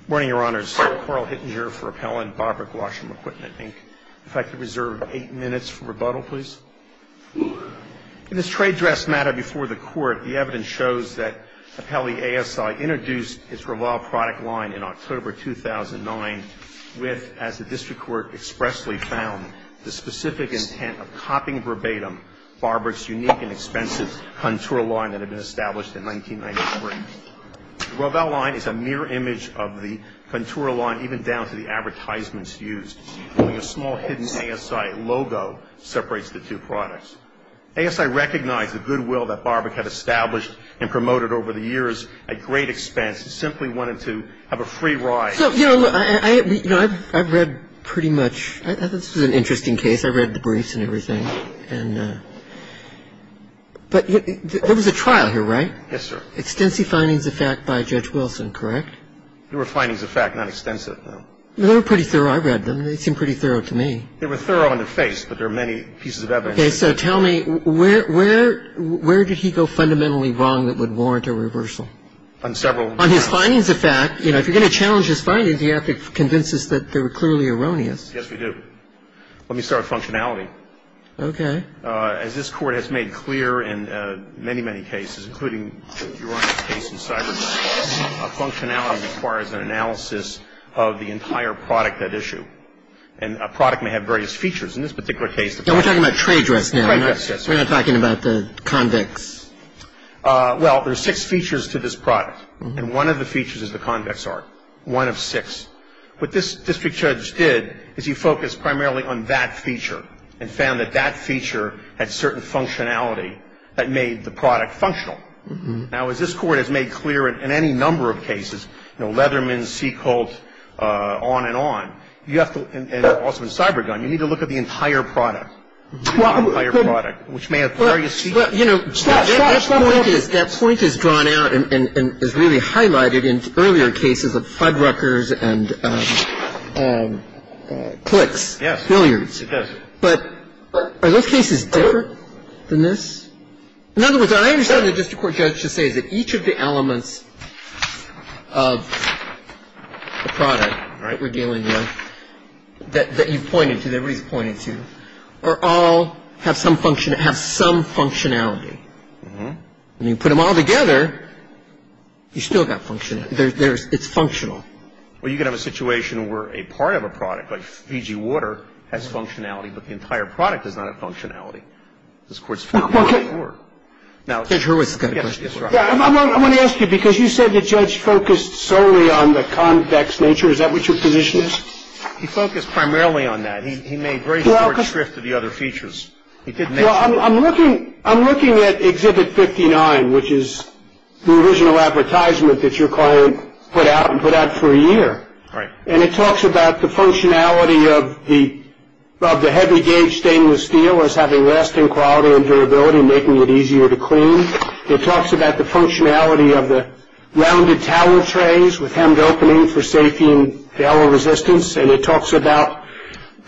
Good morning, Your Honors. Carl Hittinger for Appellant, Barbrock Washroom Equipment, Inc. If I could reserve eight minutes for rebuttal, please. In this trade dress matter before the Court, the evidence shows that Appellee A.S.I. introduced his Roval product line in October 2009 with, as the District Court expressly found, the specific intent of copying verbatim Barbrock's unique and expensive contour line that had been established in 1993. The Roval line is a mirror image of the contour line even down to the advertisements used, only a small hidden A.S.I. logo separates the two products. A.S.I. recognized the goodwill that Barbrock had established and promoted over the years at great expense and simply wanted to have a free ride. So, you know, I've read pretty much – this is an interesting case. I've read the briefs and everything. But there was a trial here, right? Yes, sir. Extensive findings of fact by Judge Wilson, correct? They were findings of fact, not extensive. They were pretty thorough. I read them. They seemed pretty thorough to me. They were thorough in the face, but there are many pieces of evidence. Okay. So tell me, where did he go fundamentally wrong that would warrant a reversal? On several grounds. On his findings of fact, you know, if you're going to challenge his findings, you have to convince us that they were clearly erroneous. Yes, we do. Let me start with functionality. Okay. As this Court has made clear in many, many cases, including Your Honor's case in Cyberdyne, functionality requires an analysis of the entire product at issue. And a product may have various features. In this particular case, the product – We're talking about trade dress now. Yes, yes. We're not talking about the convex. Well, there's six features to this product. And one of the features is the convex art, one of six. What this district judge did is he focused primarily on that feature and found that that feature had certain functionality that made the product functional. Now, as this Court has made clear in any number of cases, you know, Leatherman, Seacolt, on and on, you have to – and also in Cyberdyne, you need to look at the entire product. The entire product, which may have various features. Well, you know, that point is drawn out and is really highlighted in earlier cases of Fuddruckers and clicks, failures. Yes, it does. But are those cases different than this? In other words, what I understand the district court judge to say is that each of the elements of the product, right, that you've pointed to, that everybody's pointed to, are all – have some functionality. And you put them all together, you still got functionality. It's functional. Well, you can have a situation where a part of a product, like Fiji water, has functionality, but the entire product does not have functionality. This Court's found that before. Judge Hurwitz has got a question. I want to ask you, because you said the judge focused solely on the convex nature. Is that what your position is? He focused primarily on that. He made very short shrift to the other features. Well, I'm looking at Exhibit 59, which is the original advertisement that your client put out and put out for a year. Right. And it talks about the functionality of the heavy gauge stainless steel as having lasting quality and durability, making it easier to clean. It talks about the functionality of the rounded towel trays with hemmed openings for safety and resistance, and it talks about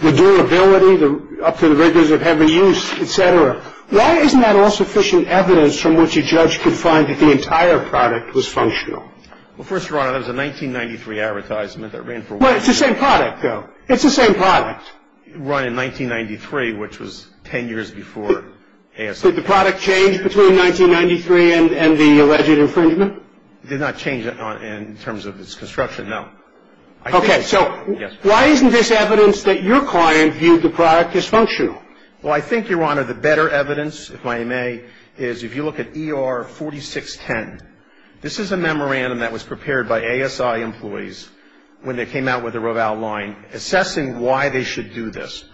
the durability up to the rigors of heavy use, et cetera. Why isn't that all sufficient evidence from which a judge could find that the entire product was functional? Well, first of all, that was a 1993 advertisement that ran for a while. But it's the same product, though. It's the same product. It ran in 1993, which was 10 years before ASL. Did the product change between 1993 and the alleged infringement? It did not change in terms of its construction, no. Okay. So why isn't this evidence that your client viewed the product dysfunctional? Well, I think, Your Honor, the better evidence, if I may, is if you look at ER 4610, this is a memorandum that was prepared by ASI employees when they came out with the Roval line, assessing why they should do this,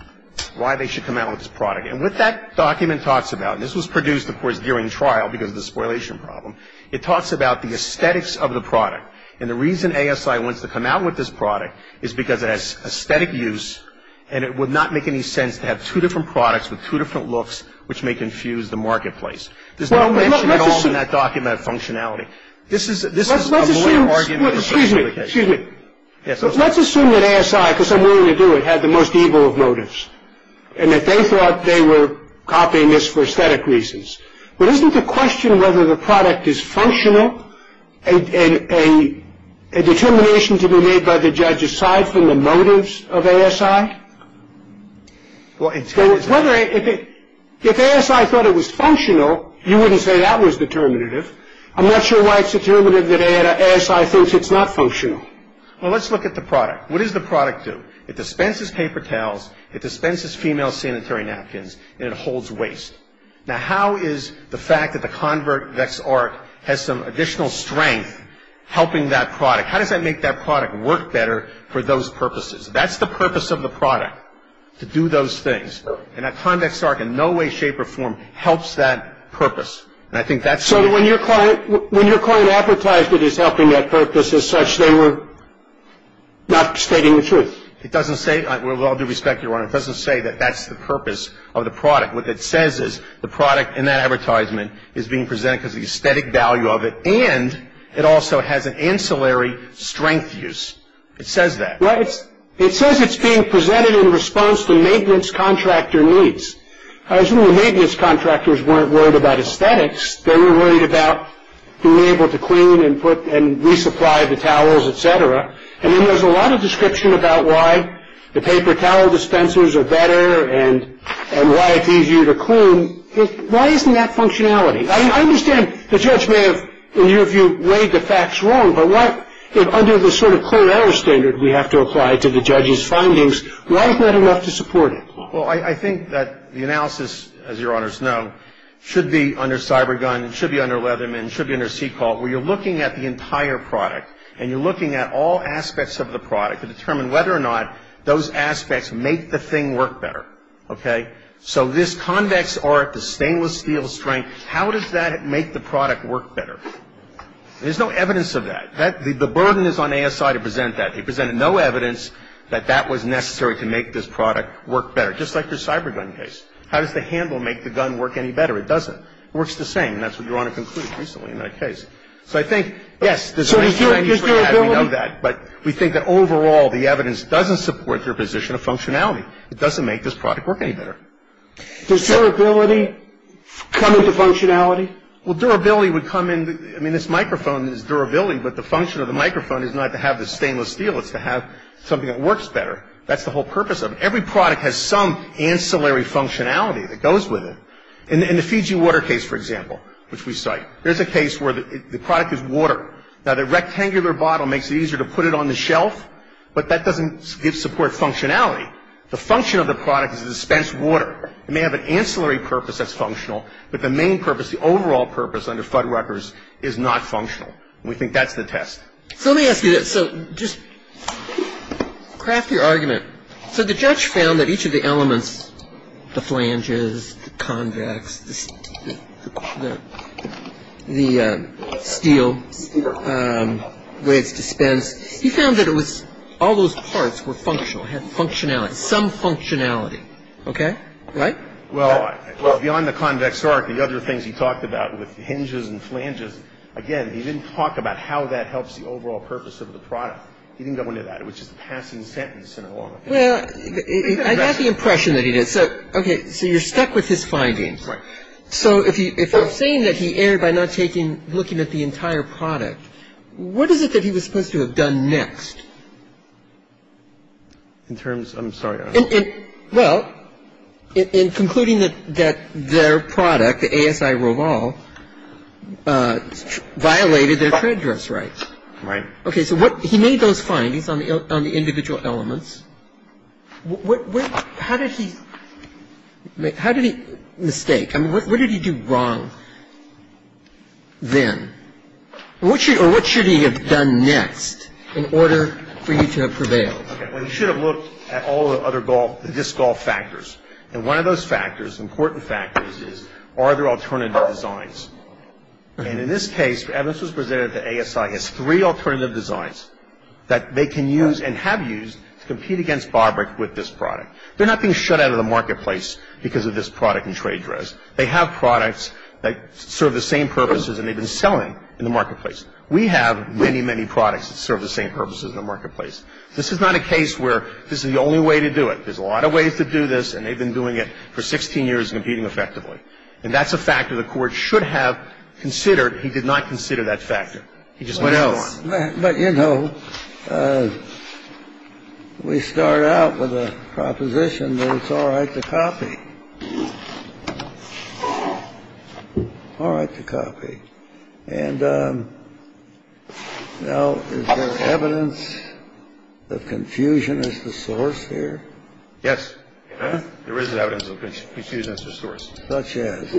why they should come out with this product. And what that document talks about, and this was produced, of course, during trial because of the spoilation problem, it talks about the aesthetics of the product. And the reason ASI wants to come out with this product is because it has aesthetic use and it would not make any sense to have two different products with two different looks, which may confuse the marketplace. There's no mention at all in that document of functionality. This is a more argumentative justification. Let's assume that ASI, because I'm willing to do it, had the most evil of motives and that they thought they were copying this for aesthetic reasons. But isn't the question whether the product is functional a determination to be made by the judge, aside from the motives of ASI? If ASI thought it was functional, you wouldn't say that was determinative. I'm not sure why it's determinative that ASI thinks it's not functional. Well, let's look at the product. What does the product do? It dispenses paper towels, it dispenses female sanitary napkins, and it holds waste. Now, how is the fact that the Convex Arc has some additional strength helping that product, how does that make that product work better for those purposes? That's the purpose of the product, to do those things. And that Convex Arc in no way, shape, or form helps that purpose. So when your client advertised it as helping that purpose as such, they were not stating the truth. It doesn't say, with all due respect, Your Honor, it doesn't say that that's the purpose of the product. What it says is the product in that advertisement is being presented because of the aesthetic value of it, and it also has an ancillary strength use. It says that. Well, it says it's being presented in response to maintenance contractor needs. I assume the maintenance contractors weren't worried about aesthetics. They were worried about being able to clean and put and resupply the towels, et cetera. And then there's a lot of description about why the paper towel dispensers are better and why it's easier to clean. Why isn't that functionality? I understand the judge may have, in your view, weighed the facts wrong, but what if under the sort of current error standard we have to apply to the judge's findings, why is that enough to support it? Well, I think that the analysis, as Your Honors know, should be under Cybergun, should be under Leatherman, should be under CECOL, where you're looking at the entire product and you're looking at all aspects of the product to determine whether or not those aspects make the thing work better. Okay? So this convex arc, the stainless steel strength, how does that make the product work better? There's no evidence of that. The burden is on ASI to present that. He presented no evidence that that was necessary to make this product work better, just like the Cybergun case. How does the handle make the gun work any better? It doesn't. It works the same, and that's what you're on to conclude recently in that case. So I think, yes, there's a range of findings we have, we know that, but we think that overall the evidence doesn't support your position of functionality. It doesn't make this product work any better. Does durability come into functionality? Well, durability would come in, I mean, this microphone is durability, but the function of the microphone is not to have the stainless steel. It's to have something that works better. That's the whole purpose of it. Every product has some ancillary functionality that goes with it. In the Fiji water case, for example, which we cite, there's a case where the product is water. Now, the rectangular bottle makes it easier to put it on the shelf, but that doesn't give support functionality. The function of the product is to dispense water. It may have an ancillary purpose that's functional, but the main purpose, the overall purpose under Fuddruckers is not functional. We think that's the test. So let me ask you this. So just craft your argument. So the judge found that each of the elements, the flanges, the convex, the steel, the way it's dispensed, he found that it was all those parts were functional, had functionality, some functionality. Okay? Right? Well, beyond the convex arc, the other things he talked about with hinges and flanges, again, he didn't talk about how that helps the overall purpose of the product. He didn't go into that. It was just a passing sentence in a long opinion. Well, I got the impression that he did. So, okay, so you're stuck with his findings. Right. So if you're saying that he erred by not taking, looking at the entire product, what is it that he was supposed to have done next? In terms, I'm sorry, I don't know. Well, in concluding that their product, the ASI Roval, violated their trade dress rights. Right. Okay, so he made those findings on the individual elements. How did he mistake? I mean, what did he do wrong then? Or what should he have done next in order for you to have prevailed? Well, he should have looked at all the other disc golf factors. And one of those factors, important factors, is are there alternative designs? And in this case, Evans was presented with the ASI as three alternative designs that they can use and have used to compete against Bobrick with this product. They're not being shut out of the marketplace because of this product and trade dress. They have products that serve the same purposes and they've been selling in the marketplace. We have many, many products that serve the same purposes in the marketplace. This is not a case where this is the only way to do it. There's a lot of ways to do this and they've been doing it for 16 years and competing effectively. And that's a factor the Court should have considered. He did not consider that factor. He just moved on. What else? But, you know, we start out with a proposition that it's all right to copy. All right to copy. And now is there evidence of confusion as the source here? Yes. There is evidence of confusion as the source. Such as?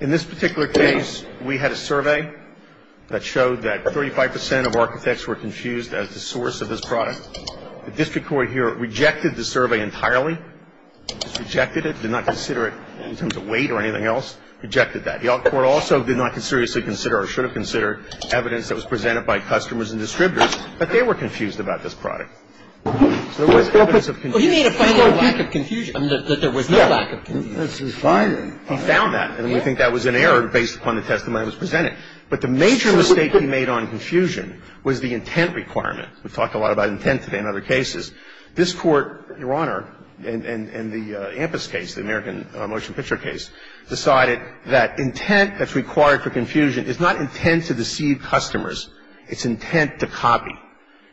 In this particular case, we had a survey that showed that 35 percent of architects were confused as the source of this product. The district court here rejected the survey entirely. It rejected it, did not consider it in terms of weight or anything else, rejected that. The court also did not seriously consider or should have considered evidence that was presented by customers and distributors, but they were confused about this product. So there was evidence of confusion. Well, he made a final lack of confusion, that there was no lack of confusion. Yes. He found that. And we think that was an error based upon the testimony that was presented. But the major mistake he made on confusion was the intent requirement. We've talked a lot about intent today in other cases. This Court, Your Honor, in the Ampis case, the American motion picture case, decided that intent that's required for confusion is not intent to deceive customers. It's intent to copy.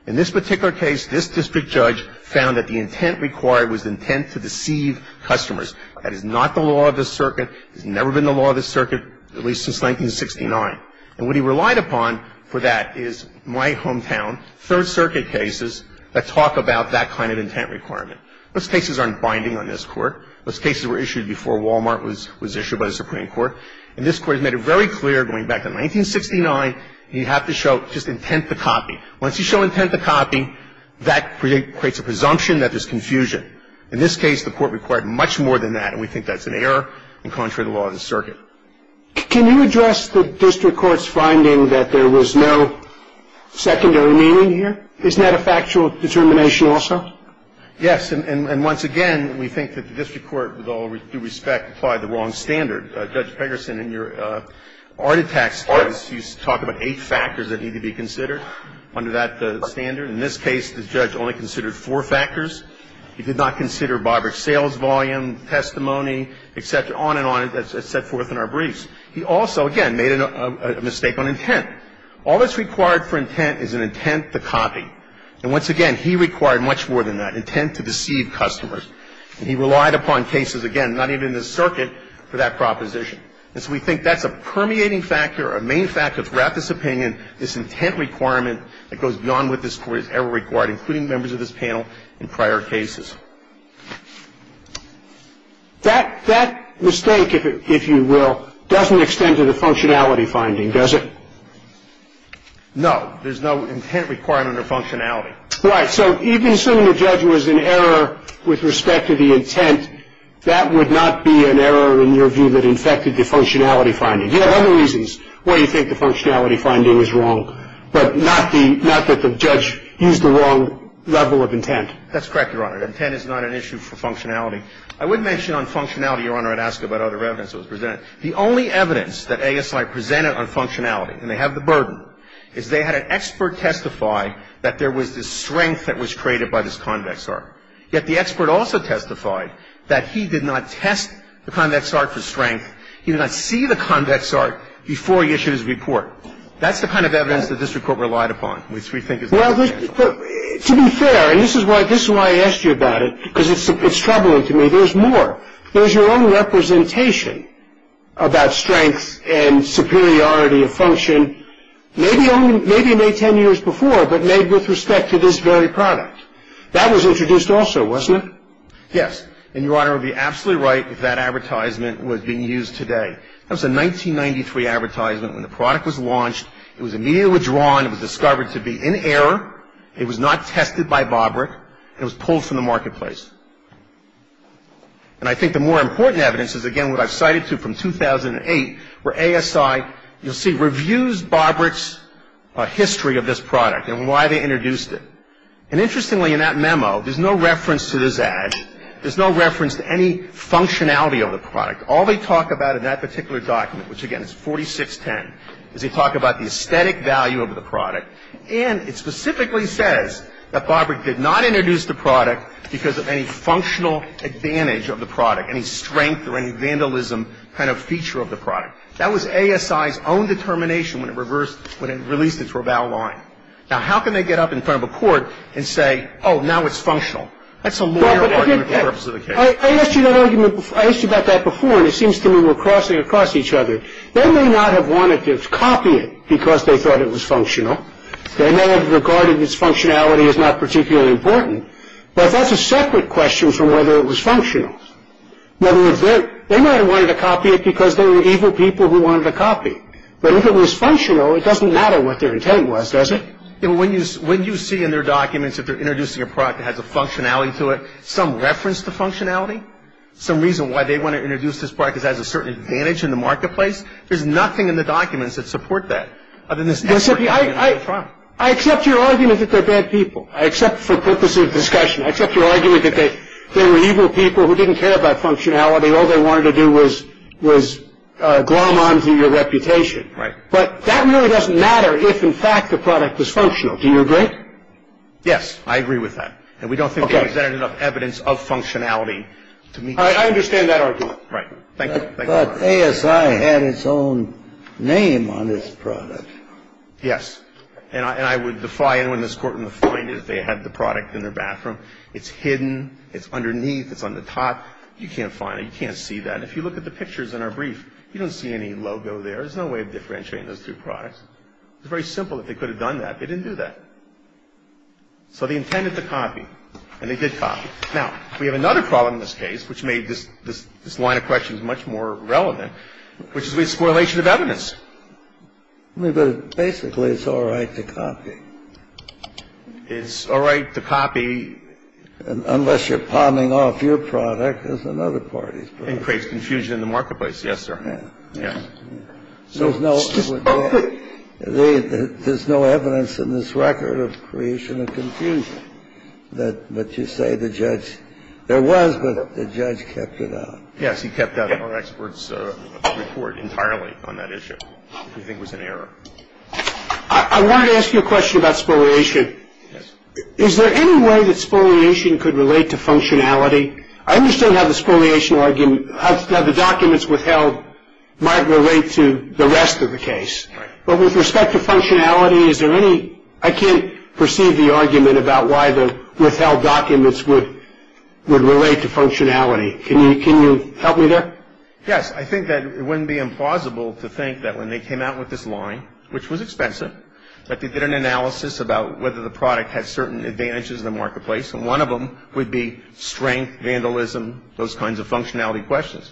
In this particular case, this district judge found that the intent required was intent to deceive customers. That is not the law of this circuit. It's never been the law of this circuit, at least since 1969. And what he relied upon for that is my hometown, Third Circuit cases that talk about that kind of intent requirement. Those cases aren't binding on this Court. Those cases were issued before Wal-Mart was issued by the Supreme Court. And this Court has made it very clear, going back to 1969, you have to show just intent to copy. Once you show intent to copy, that creates a presumption that there's confusion. In this case, the Court required much more than that, and we think that's an error and contrary to the law of this circuit. Can you address the district court's finding that there was no secondary meaning here? Isn't that a factual determination also? Yes. And once again, we think that the district court, with all due respect, applied the wrong standard. Judge Pegerson, in your Arditax case, you talk about eight factors that need to be considered under that standard. In this case, the judge only considered four factors. He did not consider Barber's sales volume, testimony, et cetera, on and on, as set forth in our briefs. He also, again, made a mistake on intent. All that's required for intent is an intent to copy. And once again, he required much more than that, intent to deceive customers. And he relied upon cases, again, not even in this circuit, for that proposition. And so we think that's a permeating factor, a main factor throughout this opinion, this intent requirement that goes beyond what this Court has ever required, including members of this panel in prior cases. That mistake, if you will, doesn't extend to the functionality finding, does it? No. There's no intent requirement or functionality. Right. So even assuming the judge was in error with respect to the intent, that would not be an error in your view that infected the functionality finding. You have other reasons why you think the functionality finding is wrong, but not that the judge used the wrong level of intent. That's correct, Your Honor. Intent is not an issue for functionality. I would mention on functionality, Your Honor, I'd ask about other evidence that was presented. The only evidence that ASI presented on functionality, and they have the burden, is they had an expert testify that there was this strength that was created by this convex arc. He did not see the convex arc before he issued his report. That's the kind of evidence that this Court relied upon, which we think is the case. Well, to be fair, and this is why I asked you about it, because it's troubling to me, there's more. There's your own representation about strength and superiority of function, maybe only 10 years before, but made with respect to this very product. That was introduced also, wasn't it? Yes. And Your Honor would be absolutely right if that advertisement was being used today. That was a 1993 advertisement when the product was launched. It was immediately withdrawn. It was discovered to be in error. It was not tested by Bobrick. It was pulled from the marketplace. And I think the more important evidence is, again, what I've cited to from 2008, where ASI, you'll see, reviews Bobrick's history of this product and why they introduced it. And interestingly, in that memo, there's no reference to this ad. There's no reference to any functionality of the product. All they talk about in that particular document, which, again, is 4610, is they talk about the aesthetic value of the product. And it specifically says that Bobrick did not introduce the product because of any functional advantage of the product, any strength or any vandalism kind of feature of the product. That was ASI's own determination when it released its rebel line. Now, how can they get up in front of a court and say, oh, now it's functional? That's a lawyer argument for the purpose of the case. I asked you about that before, and it seems to me we're crossing across each other. They may not have wanted to copy it because they thought it was functional. They may have regarded its functionality as not particularly important. But that's a separate question from whether it was functional. They might have wanted to copy it because they were evil people who wanted to copy. But if it was functional, it doesn't matter what their intent was, does it? When you see in their documents that they're introducing a product that has a functionality to it, some reference to functionality, some reason why they want to introduce this product because it has a certain advantage in the marketplace, there's nothing in the documents that support that other than this effort to get it on the front. I accept your argument that they're bad people. I accept for purposes of discussion. I accept your argument that they were evil people who didn't care about functionality. All they wanted to do was glom onto your reputation. Right. But that really doesn't matter if, in fact, the product was functional. Do you agree? Yes. I agree with that. And we don't think they presented enough evidence of functionality to me. I understand that argument. Right. Thank you. But ASI had its own name on this product. Yes. And I would defy anyone in this Court to find it if they had the product in their bathroom. It's hidden. It's underneath. It's on the top. You can't find it. You can't see that. And if you look at the pictures in our brief, you don't see any logo there. There's no way of differentiating those two products. It's very simple that they could have done that. They didn't do that. So they intended to copy. And they did copy. Now, we have another problem in this case which made this line of questions much more relevant, which is with the correlation of evidence. But basically it's all right to copy. It's all right to copy. Unless you're palming off your product as another party's product. It creates confusion in the marketplace. Yes, sir. Yes. There's no evidence in this record of creation of confusion. But you say the judge – there was, but the judge kept it out. Yes, he kept out all experts' report entirely on that issue. We think it was an error. I wanted to ask you a question about spoliation. Yes. Is there any way that spoliation could relate to functionality? I understand how the spoliation argument – how the documents withheld might relate to the rest of the case. Right. But with respect to functionality, is there any – I can't perceive the argument about why the withheld documents would relate to functionality. Can you help me there? Yes, I think that it wouldn't be implausible to think that when they came out with this line, which was expensive, that they did an analysis about whether the product had certain advantages in the marketplace, and one of them would be strength, vandalism, those kinds of functionality questions.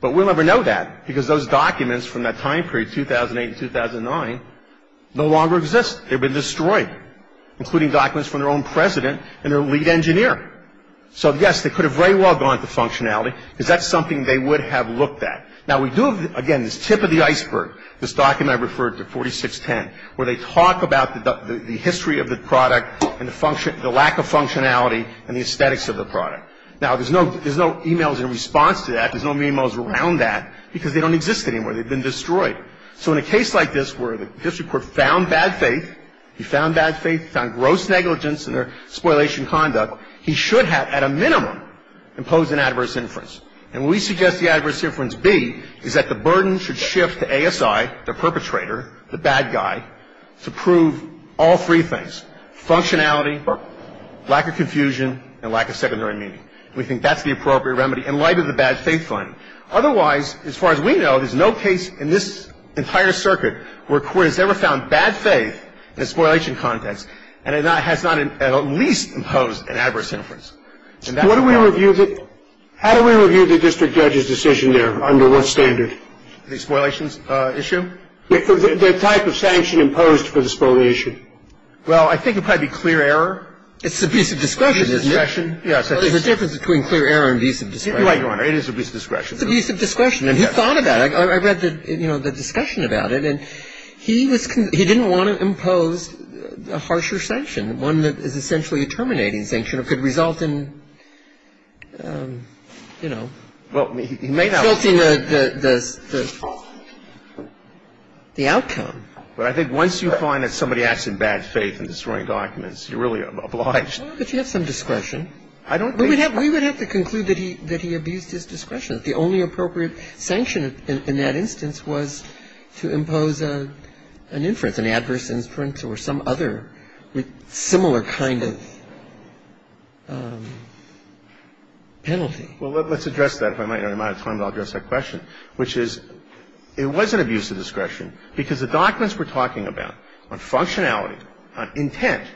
But we'll never know that because those documents from that time period, 2008 and 2009, no longer exist. They've been destroyed, including documents from their own president and their lead engineer. So, yes, they could have very well gone to functionality because that's something they would have looked at. Now, we do have, again, this tip of the iceberg, this document I referred to, 4610, where they talk about the history of the product and the lack of functionality and the aesthetics of the product. Now, there's no emails in response to that. There's no emails around that because they don't exist anymore. They've been destroyed. So in a case like this where the district court found bad faith, he found bad faith, found gross negligence in their spoliation conduct, he should have, at a minimum, imposed an adverse inference. And we suggest the adverse inference, B, is that the burden should shift to ASI, the perpetrator, the bad guy, to prove all three things, functionality, lack of confusion, and lack of secondary meaning. We think that's the appropriate remedy in light of the bad faith finding. Otherwise, as far as we know, there's no case in this entire circuit where a court has ever found bad faith in a spoliation context and has not at least imposed an adverse inference. And that's not the case. How do we review the district judge's decision there? Under what standard? The spoliation issue? The type of sanction imposed for the spoliation. Well, I think it might be clear error. It's abusive discretion, isn't it? Abusive discretion, yes. There's a difference between clear error and abusive discretion. You're right, Your Honor. It is abusive discretion. It's abusive discretion. And he thought about it. I read the discussion about it. And he didn't want to impose a harsher sanction, one that is essentially a terminating sanction or could result in, you know, filtering the outcome. But I think once you find that somebody acts in bad faith in destroying documents, you're really obliged. But you have some discretion. We would have to conclude that he abused his discretion. The only appropriate sanction in that instance was to impose an inference, and that's an adverse inference or some other similar kind of penalty. Well, let's address that. If I might have time, I'll address that question, which is it was an abusive discretion because the documents we're talking about on functionality, on intent,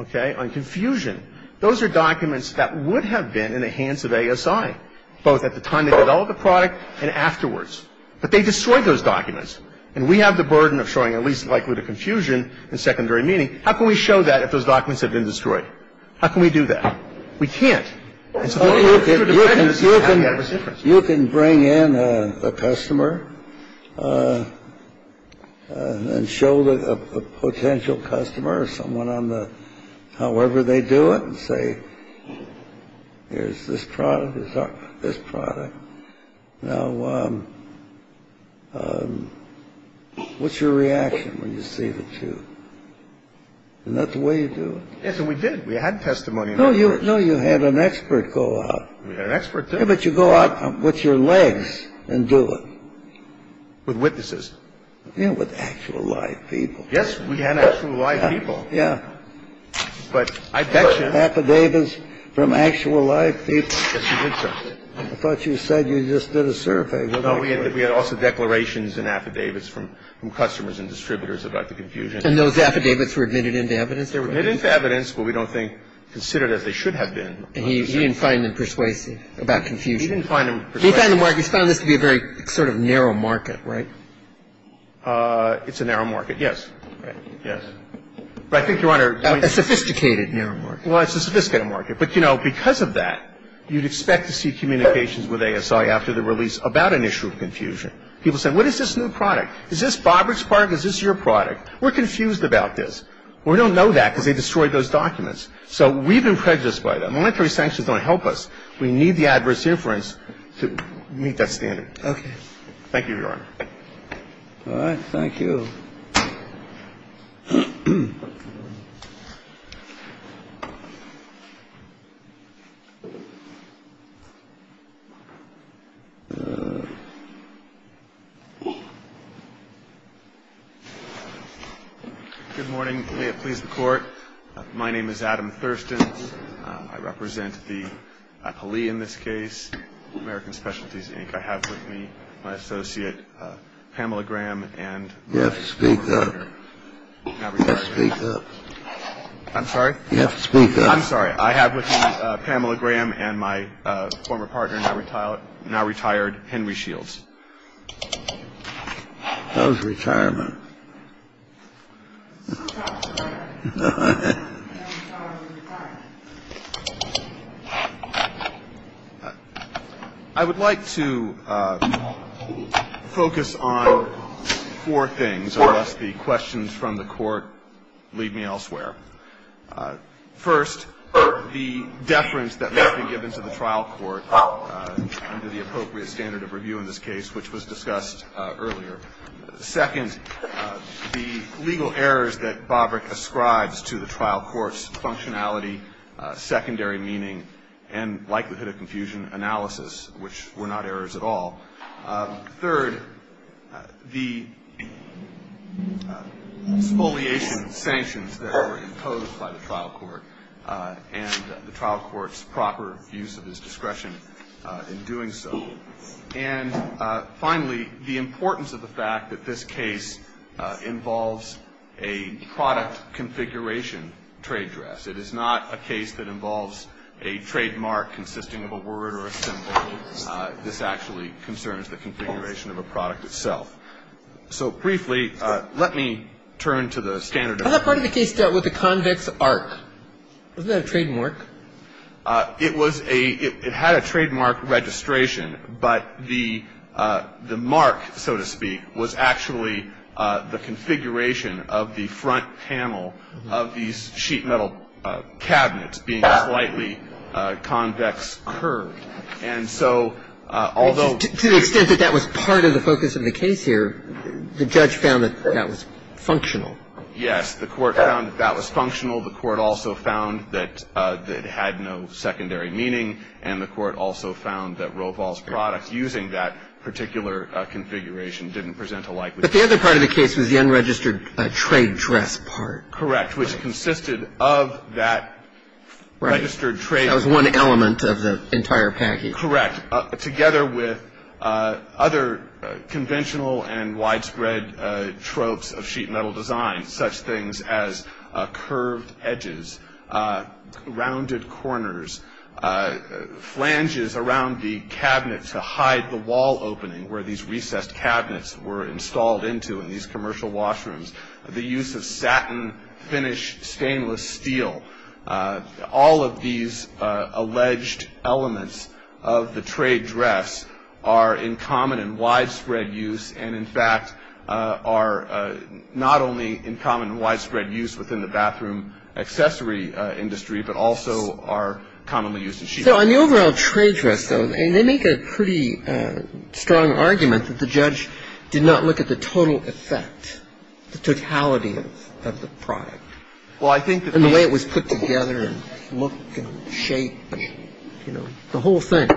okay, on confusion, those are documents that would have been in the hands of ASI, both at the time they developed the product and afterwards. But they destroyed those documents. And we have the burden of showing at least likelihood of confusion in secondary meaning. How can we show that if those documents have been destroyed? How can we do that? We can't. It's a vote of confidence. It's an adverse inference. You can bring in a customer and show the potential customer or someone on the however they do it and say, here's this product, this product. Now, what's your reaction when you see the two? Isn't that the way you do it? Yes, and we did. We had testimony. No, you had an expert go out. We had an expert, too. Yeah, but you go out with your legs and do it. With witnesses. Yeah, with actual live people. Yes, we had actual live people. But I bet you. Affidavits from actual live people. Yes, we did, sir. I thought you said you just did a survey. No, we had also declarations and affidavits from customers and distributors about the confusion. And those affidavits were admitted into evidence? They were admitted into evidence, but we don't think considered as they should have been. And he didn't find them persuasive about confusion? He didn't find them persuasive. He found this to be a very sort of narrow market, right? It's a narrow market, yes. Yes. But I think, Your Honor. A sophisticated narrow market. Well, it's a sophisticated market. But, you know, because of that, you'd expect to see communications with ASI after the release about an issue of confusion. People say, what is this new product? Is this Bobrick's product? Is this your product? We're confused about this. We don't know that because they destroyed those documents. So we've been prejudiced by that. Monetary sanctions don't help us. We need the adverse inference to meet that standard. Okay. Thank you, Your Honor. All right. Thank you. Thank you. Good morning. May it please the Court. My name is Adam Thurston. I represent the APALE in this case, American Specialties, Inc. I have with me my associate Pamela Graham and my former partner. Yes, speak up. Speak up. I'm sorry? Yes, speak up. I'm sorry. I have with me Pamela Graham and my former partner, now retired, Henry Shields. That was retirement. I would like to focus on four things, unless the questions from the Court lead me elsewhere. First, the deference that must be given to the trial court under the appropriate standard of review in this case, which was discussed earlier. Second, the legal errors that Bobrick ascribes to the trial court's functionality, secondary meaning, and likelihood of confusion analysis, which were not errors at all. Third, the expoliation sanctions that were imposed by the trial court and the trial court's proper use of his discretion in doing so. And finally, the importance of the fact that this case involves a product configuration trade dress. It is not a case that involves a trademark consisting of a word or a symbol. This actually concerns the configuration of a product itself. So briefly, let me turn to the standard of review. I thought part of the case dealt with the convict's arc. Wasn't that a trademark? It was a — it had a trademark registration, but the mark, so to speak, was actually the configuration of the front panel of these sheet metal cabinets being slightly convex curved. And so although — To the extent that that was part of the focus of the case here, the judge found that that was functional. Yes. The Court found that that was functional. The Court also found that it had no secondary meaning. And the Court also found that Roval's product using that particular configuration didn't present a likelihood. But the other part of the case was the unregistered trade dress part. Correct. Which consisted of that registered trade — Right. That was one element of the entire package. Correct. Together with other conventional and widespread tropes of sheet metal design, such things as curved edges, rounded corners, flanges around the cabinet to hide the wall opening where these recessed cabinets were installed into in these commercial washrooms, the use of satin finish stainless steel. All of these alleged elements of the trade dress are in common and widespread use and in fact are not only in common and widespread use within the bathroom accessory industry, but also are commonly used in sheet metal. So on the overall trade dress, though, they make a pretty strong argument that the judge did not look at the total effect, the totality of the product. Well, I think that — And the way it was put together and looked and shaped, you know, the whole thing.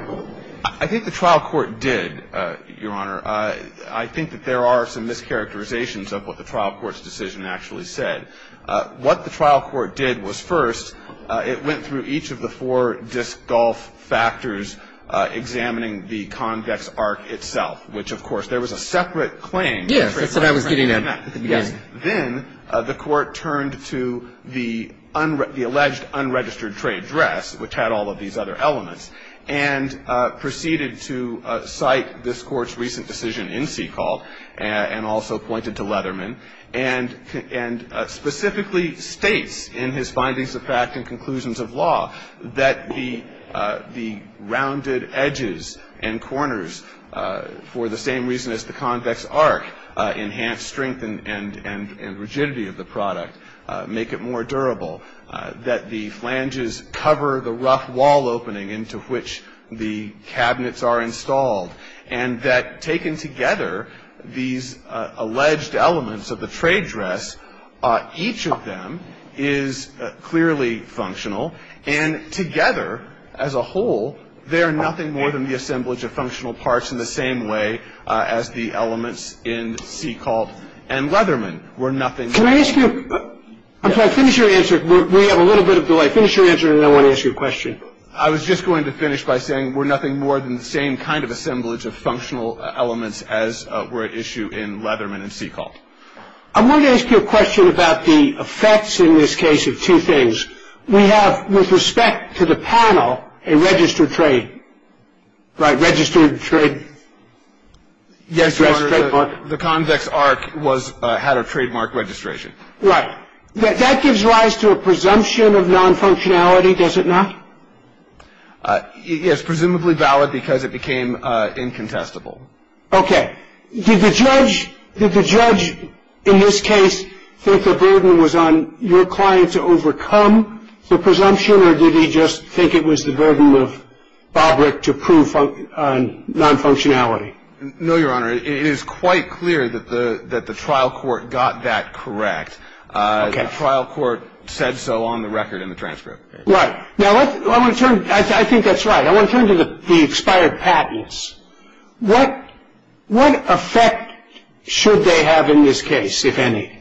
I think the trial court did, Your Honor. I think that there are some mischaracterizations of what the trial court's decision actually said. What the trial court did was, first, it went through each of the four disc golf factors, examining the convex arc itself, which, of course, there was a separate claim. Yes. That's what I was getting at at the beginning. Yes. Then the court turned to the alleged unregistered trade dress, which had all of these other elements, and proceeded to cite this court's recent decision in Seacole and also pointed to Leatherman and specifically states in his findings of fact and conclusions of law that the rounded edges and corners, for the same reason as the convex arc, enhance strength and rigidity of the product, make it more durable, that the flanges cover the rough wall opening into which the cabinets are installed, and that taken together, these alleged elements of the trade dress, each of them is clearly functional, and together, as a whole, they are nothing more than the assemblage of functional parts in the same way as the elements in Seacole and Leatherman were nothing more than — Can I ask you — I'm sorry, finish your answer. We have a little bit of delay. Finish your answer, and then I want to ask you a question. I was just going to finish by saying we're nothing more than the same kind of assemblage of functional elements as were at issue in Leatherman and Seacole. I wanted to ask you a question about the effects in this case of two things. We have, with respect to the panel, a registered trade. Right, registered trade. Yes, Your Honor. The convex arc had a trademark registration. Right. That gives rise to a presumption of nonfunctionality, does it not? Yes, presumably valid because it became incontestable. Okay. Did the judge in this case think the burden was on your client to overcome the presumption, or did he just think it was the burden of Bobrick to prove nonfunctionality? No, Your Honor. It is quite clear that the trial court got that correct. Okay. The trial court said so on the record in the transcript. Right. Now, I want to turn — I think that's right. I want to turn to the expired patents. What effect should they have in this case, if any?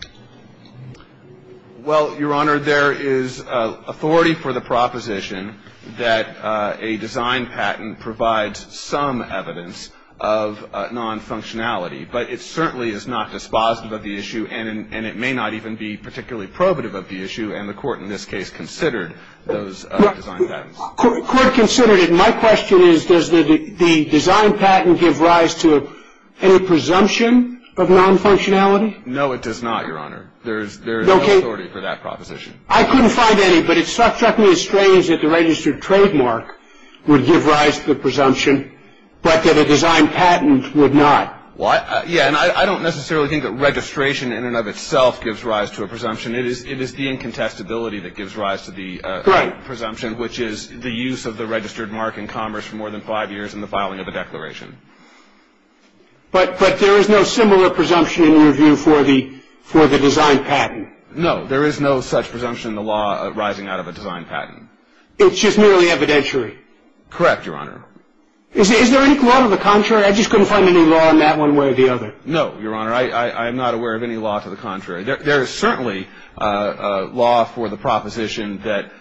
Well, Your Honor, there is authority for the proposition that a design patent provides some evidence of nonfunctionality. But it certainly is not dispositive of the issue, and it may not even be particularly probative of the issue, and the court in this case considered those design patents. The court considered it. My question is, does the design patent give rise to any presumption of nonfunctionality? No, it does not, Your Honor. There is no authority for that proposition. I couldn't find any, but it struck me as strange that the registered trademark would give rise to the presumption, but that a design patent would not. What? Yeah, and I don't necessarily think that registration in and of itself gives rise to a presumption. It is the incontestability that gives rise to the presumption, which is the use of the registered mark in commerce for more than five years in the filing of a declaration. But there is no similar presumption in your view for the design patent? No. There is no such presumption in the law arising out of a design patent. It's just merely evidentiary? Correct, Your Honor. Is there any law to the contrary? I just couldn't find any law in that one way or the other. I am not aware of any law to the contrary. There is certainly law for the proposition that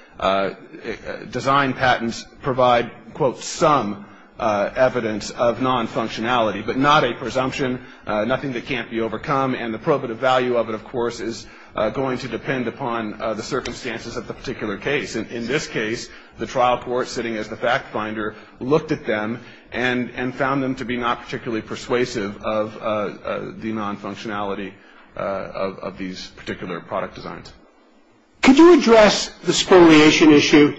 design patents provide, quote, some evidence of non-functionality, but not a presumption, nothing that can't be overcome. And the probative value of it, of course, is going to depend upon the circumstances of the particular case. In this case, the trial court, sitting as the fact finder, looked at them and found them to be not particularly persuasive of the non-functionality of these particular product designs. Could you address the spoliation issue?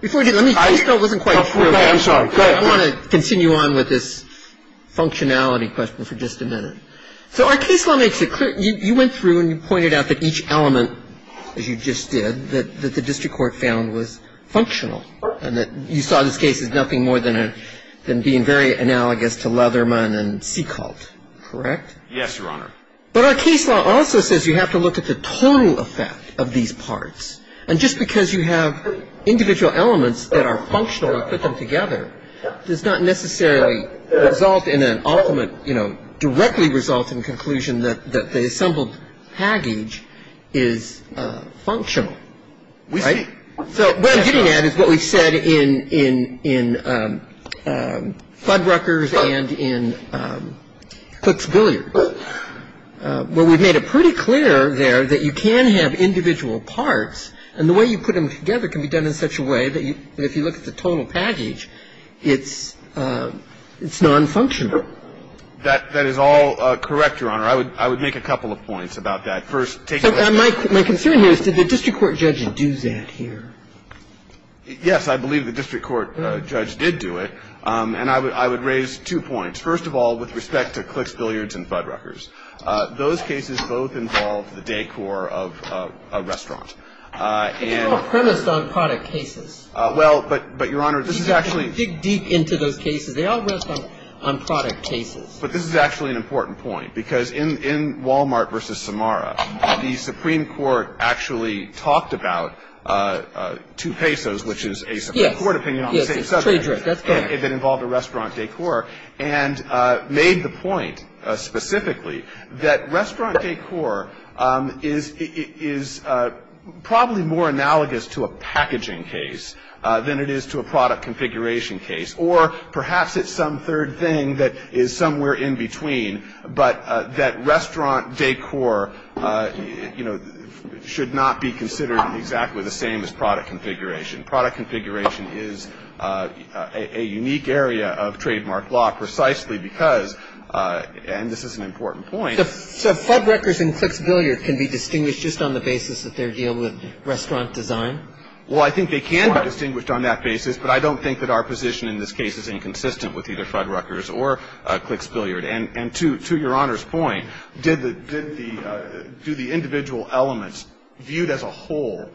Before I do, let me just go, it wasn't quite clear. I'm sorry, go ahead. I want to continue on with this functionality question for just a minute. So our case law makes it clear. You went through and you pointed out that each element, as you just did, that the district court found was functional and that you saw this case as nothing more than being very analogous to Leatherman and Seacolt. Correct? Yes, Your Honor. But our case law also says you have to look at the total effect of these parts. And just because you have individual elements that are functional and put them together does not necessarily result in an ultimate, you know, directly result in the conclusion that the assembled package is functional. We see. So what I'm getting at is what we've said in Fuddruckers and in Cook's Billiards, where we've made it pretty clear there that you can have individual parts, and the way you put them together can be done in such a way that if you look at the total package, it's non-functional. That is all correct, Your Honor. I would make a couple of points about that. My concern here is did the district court judge do that here? Yes, I believe the district court judge did do it. And I would raise two points. First of all, with respect to Cook's Billiards and Fuddruckers, those cases both involve the decor of a restaurant. They're all premised on product cases. Well, but, Your Honor, this is actually — Dig deep into those cases. They all rest on product cases. But this is actually an important point, because in Walmart v. Samara, the Supreme Court actually talked about two pesos, which is a Supreme Court opinion on the same subject. Yes, it's trade drift. That's correct. It involved a restaurant decor, and made the point specifically that restaurant decor is probably more analogous to a packaging case than it is to a product configuration case, or perhaps it's some third thing that is somewhere in between, but that restaurant decor, you know, should not be considered exactly the same as product configuration. Product configuration is a unique area of trademark law precisely because — and this is an important point. So Fuddruckers and Cook's Billiards can be distinguished just on the basis that they're dealing with restaurant design? Well, I think they can be distinguished on that basis, but I don't think that our position in this case is inconsistent with either Fuddruckers or Cook's Billiards. And to Your Honor's point, do the individual elements viewed as a whole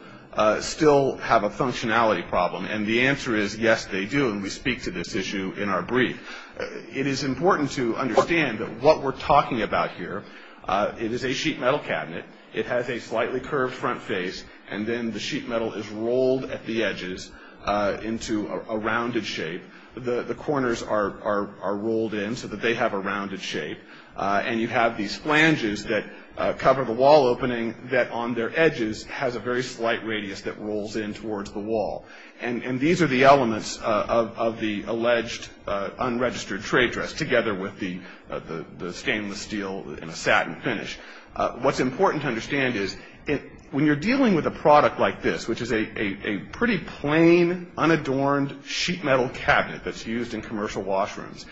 still have a functionality problem? And the answer is yes, they do, and we speak to this issue in our brief. It is important to understand that what we're talking about here, it is a sheet metal cabinet. It has a slightly curved front face, and then the sheet metal is rolled at the edges into a rounded shape. The corners are rolled in so that they have a rounded shape, and you have these flanges that cover the wall opening that on their edges has a very slight radius that rolls in towards the wall. And these are the elements of the alleged unregistered trade dress together with the stainless steel and a satin finish. What's important to understand is when you're dealing with a product like this, which is a pretty plain, unadorned sheet metal cabinet that's used in commercial washrooms,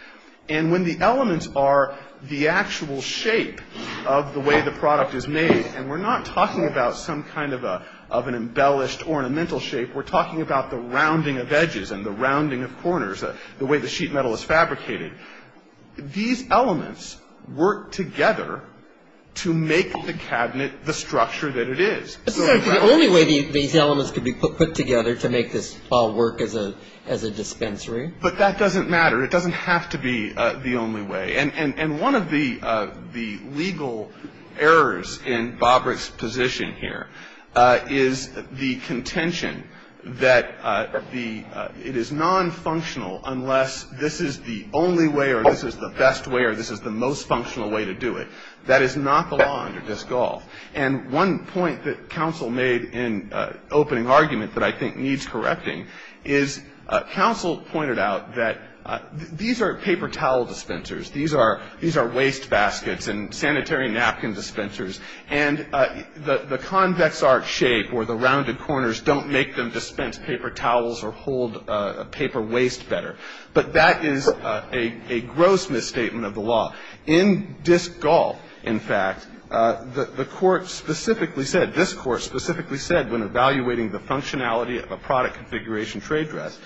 and when the elements are the actual shape of the way the product is made, and we're not talking about some kind of an embellished ornamental shape. We're talking about the rounding of edges and the rounding of corners, the way the sheet metal is fabricated. These elements work together to make the cabinet the structure that it is. This is the only way these elements could be put together to make this wall work as a dispensary? But that doesn't matter. It doesn't have to be the only way. And one of the legal errors in Bobrick's position here is the contention that it is nonfunctional unless this is the only way or this is the best way or this is the most functional way to do it. That is not the law under Dysgolf. And one point that counsel made in opening argument that I think needs correcting is counsel pointed out that these are paper towel dispensers. These are waste baskets and sanitary napkin dispensers. And the convex arch shape or the rounded corners don't make them dispense paper towels or hold paper waste better. But that is a gross misstatement of the law. In Dysgolf, in fact, the court specifically said, this court specifically said, when evaluating the functionality of a product configuration trade dress,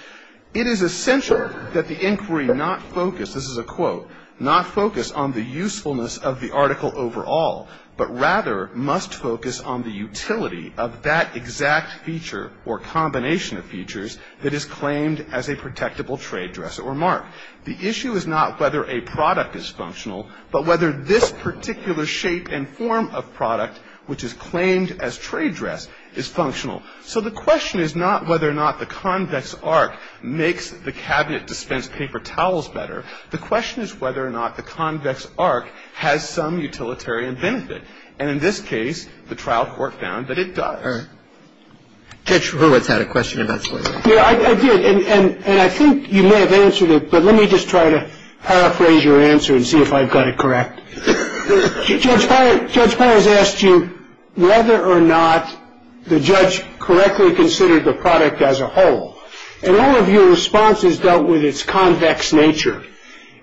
it is essential that the inquiry not focus, this is a quote, not focus on the usefulness of the article overall, but rather must focus on the utility of that exact feature or combination of features that is claimed as a protectable trade dress or mark. The issue is not whether a product is functional, but whether this particular shape and form of product, which is claimed as trade dress, is functional. So the question is not whether or not the convex arch makes the cabinet dispense paper towels better. The question is whether or not the convex arch has some utilitarian benefit. And in this case, the trial court found that it does. Kagan. Judge Riewerts had a question about slavery. Yeah, I did. And I think you may have answered it, but let me just try to paraphrase your answer and see if I've got it correct. Judge Powers asked you whether or not the judge correctly considered the product as a whole. And all of your responses dealt with its convex nature.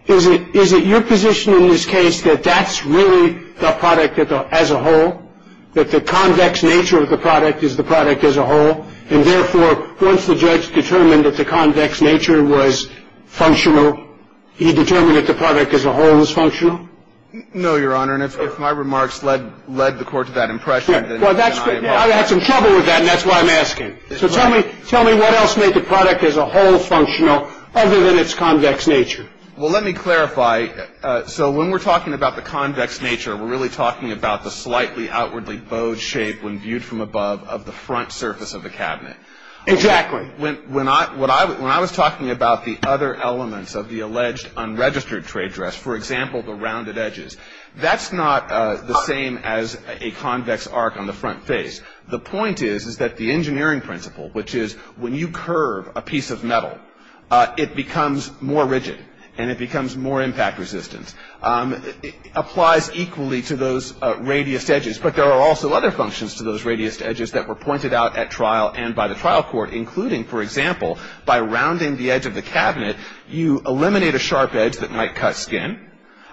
Is it your position in this case that that's really the product as a whole, that the convex nature of the product is the product as a whole? And therefore, once the judge determined that the convex nature was functional, he determined that the product as a whole was functional? No, Your Honor. And if my remarks led the court to that impression, then I am wrong. I've had some trouble with that, and that's why I'm asking. So tell me what else made the product as a whole functional other than its convex nature. Well, let me clarify. So when we're talking about the convex nature, we're really talking about the slightly outwardly bowed shape when viewed from above of the front surface of the cabinet. Exactly. When I was talking about the other elements of the alleged unregistered trade dress, for example, the rounded edges, that's not the same as a convex arc on the front face. The point is, is that the engineering principle, which is when you curve a piece of metal, it becomes more rigid and it becomes more impact resistant, applies equally to those radius edges. But there are also other functions to those radius edges that were pointed out at trial and by the trial court, including, for example, by rounding the edge of the cabinet, you eliminate a sharp edge that might cut skin.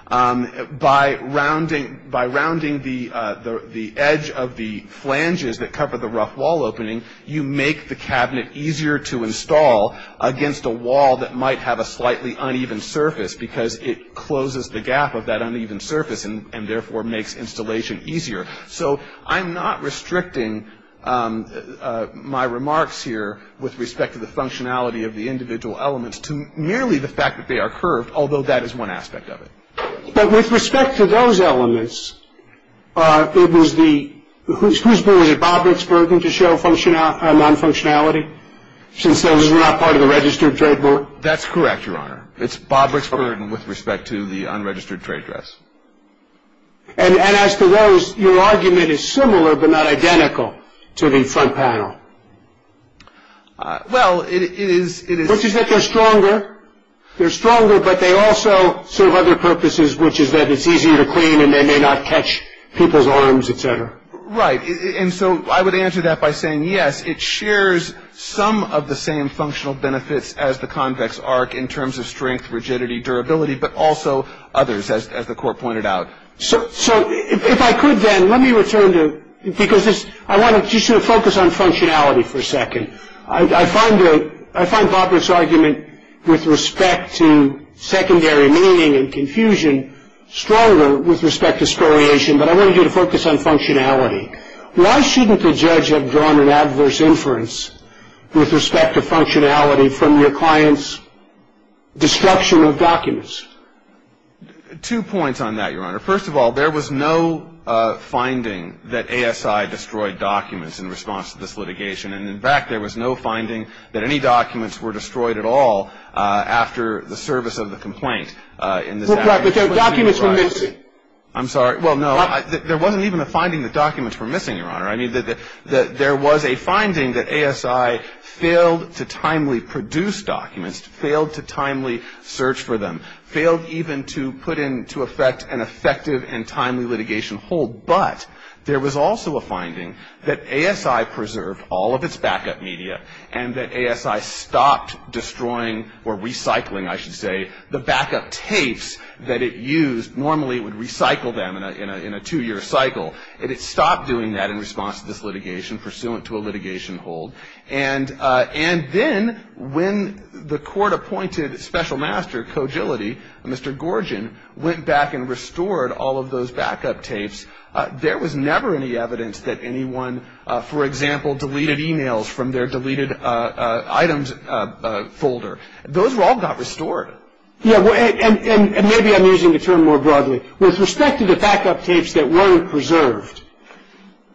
By rounding the edge of the flanges that cover the rough wall opening, you make the cabinet easier to install against a wall that might have a slightly uneven surface because it closes the gap of that uneven surface and therefore makes installation easier. So I'm not restricting my remarks here with respect to the functionality of the individual elements to merely the fact that they are curved, although that is one aspect of it. But with respect to those elements, it was the – whose bill is it, Bob Ricksburg, to show non-functionality, since those are not part of the registered trade book? That's correct, Your Honor. It's Bob Ricksburg with respect to the unregistered trade address. And as to those, your argument is similar but not identical to the front panel. Well, it is – Which is that they're stronger. They're stronger, but they also serve other purposes, which is that it's easier to clean and they may not catch people's arms, et cetera. Right. And so I would answer that by saying yes, it shares some of the same functional benefits as the convex arc in terms of strength, rigidity, durability, but also others, as the Court pointed out. So if I could then, let me return to – because this – I want to just sort of focus on functionality for a second. I find Bob Ricksburg's argument with respect to secondary meaning and confusion stronger with respect to scoriation, but I want you to focus on functionality. Why shouldn't the judge have drawn an adverse inference with respect to functionality from your client's destruction of documents? Two points on that, Your Honor. First of all, there was no finding that ASI destroyed documents in response to this litigation. And, in fact, there was no finding that any documents were destroyed at all after the service of the complaint. Well, but the documents were missing. I'm sorry. Well, no. There wasn't even a finding that documents were missing, Your Honor. I mean, there was a finding that ASI failed to timely produce documents, failed to timely search for them, failed even to put into effect an effective and timely litigation hold. But there was also a finding that ASI preserved all of its backup media and that ASI stopped destroying or recycling, I should say, the backup tapes that it used. Normally it would recycle them in a two-year cycle, and it stopped doing that in response to this litigation, pursuant to a litigation hold. And then when the court appointed special master, Cogility, Mr. Gorgin, went back and restored all of those backup tapes, there was never any evidence that anyone, for example, deleted emails from their deleted items folder. Those all got restored. Yeah, and maybe I'm using the term more broadly. With respect to the backup tapes that weren't preserved,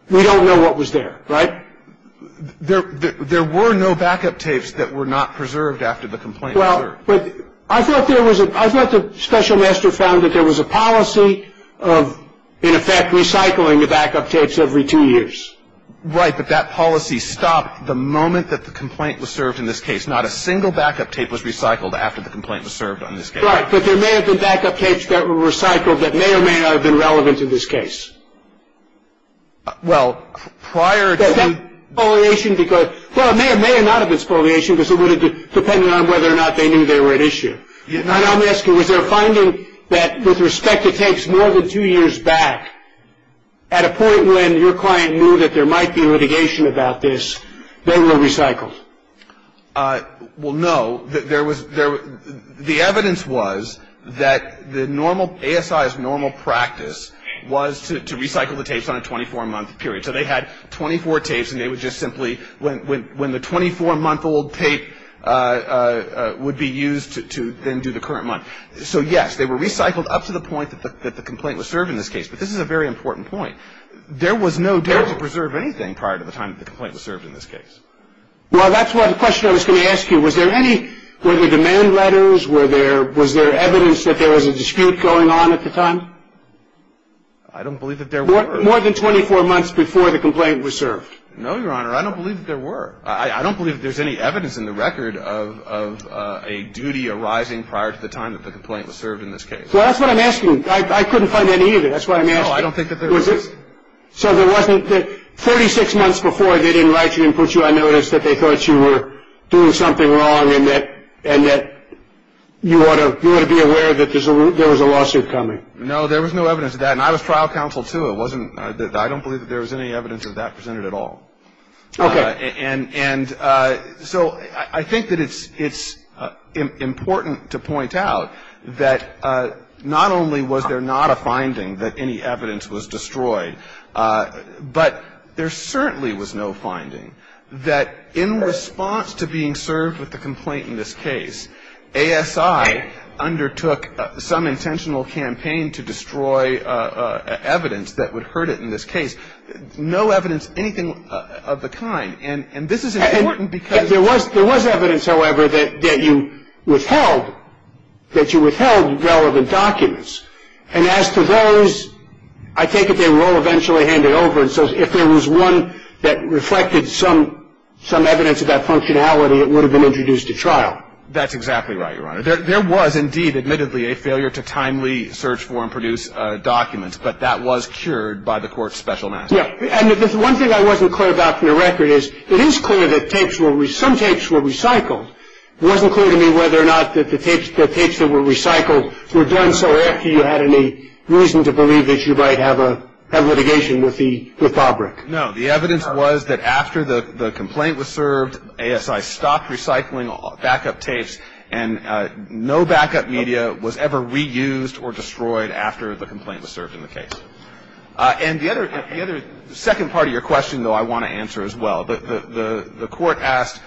we don't know what was there, right? There were no backup tapes that were not preserved after the complaint. Well, but I thought there was a – I thought the special master found that there was a policy of, in effect, recycling the backup tapes every two years. Right, but that policy stopped the moment that the complaint was served in this case. Not a single backup tape was recycled after the complaint was served on this case. Right, but there may have been backup tapes that were recycled that may or may not have been relevant in this case. Well, prior to the – But that spoliation, because – well, it may or may not have been spoliation, because it would have depended on whether or not they knew they were at issue. And I'm asking, was there a finding that, with respect to tapes more than two years back, at a point when your client knew that there might be litigation about this, they were recycled? Well, no. There was – the evidence was that the normal – ASI's normal practice was to recycle the tapes on a 24-month period. So they had 24 tapes, and they would just simply – when the 24-month-old tape would be used to then do the current month. So, yes, they were recycled up to the point that the complaint was served in this case. But this is a very important point. There was no dare to preserve anything prior to the time that the complaint was served in this case. Well, that's what the question I was going to ask you. Was there any – were there demand letters? Were there – was there evidence that there was a dispute going on at the time? I don't believe that there were. More than 24 months before the complaint was served? No, Your Honor. I don't believe that there were. I don't believe that there's any evidence in the record of a duty arising prior to the time that the complaint was served in this case. Well, that's what I'm asking. I couldn't find any either. That's what I'm asking. No, I don't think that there was. So there wasn't – 46 months before they didn't write you and put you on notice that they thought you were doing something wrong and that you ought to be aware that there was a lawsuit coming? No, there was no evidence of that. And I was trial counsel, too. It wasn't – I don't believe that there was any evidence of that presented at all. Okay. And so I think that it's important to point out that not only was there not a finding that any evidence was destroyed, but there certainly was no finding that in response to being served with the complaint in this case, ASI undertook some intentional campaign to destroy evidence that would hurt it in this case. No evidence anything of the kind. And this is important because – There was evidence, however, that you withheld relevant documents. And as to those, I take it they were all eventually handed over. And so if there was one that reflected some evidence of that functionality, it would have been introduced to trial. That's exactly right, Your Honor. There was indeed, admittedly, a failure to timely search for and produce documents, but that was cured by the court's special master. Yeah. And one thing I wasn't clear about from the record is it is clear that some tapes were recycled. It wasn't clear to me whether or not the tapes that were recycled were done so after you had any reason to believe that you might have litigation with Bobrick. No. The evidence was that after the complaint was served, ASI stopped recycling backup tapes, and no backup media was ever reused or destroyed after the complaint was served in the case. And the other – the second part of your question, though, I want to answer as well. The court asked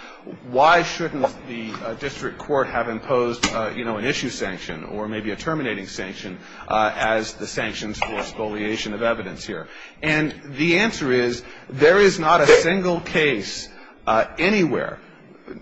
why shouldn't the district court have imposed, you know, an issue sanction or maybe a terminating sanction as the sanctions for spoliation of evidence here. And the answer is there is not a single case anywhere,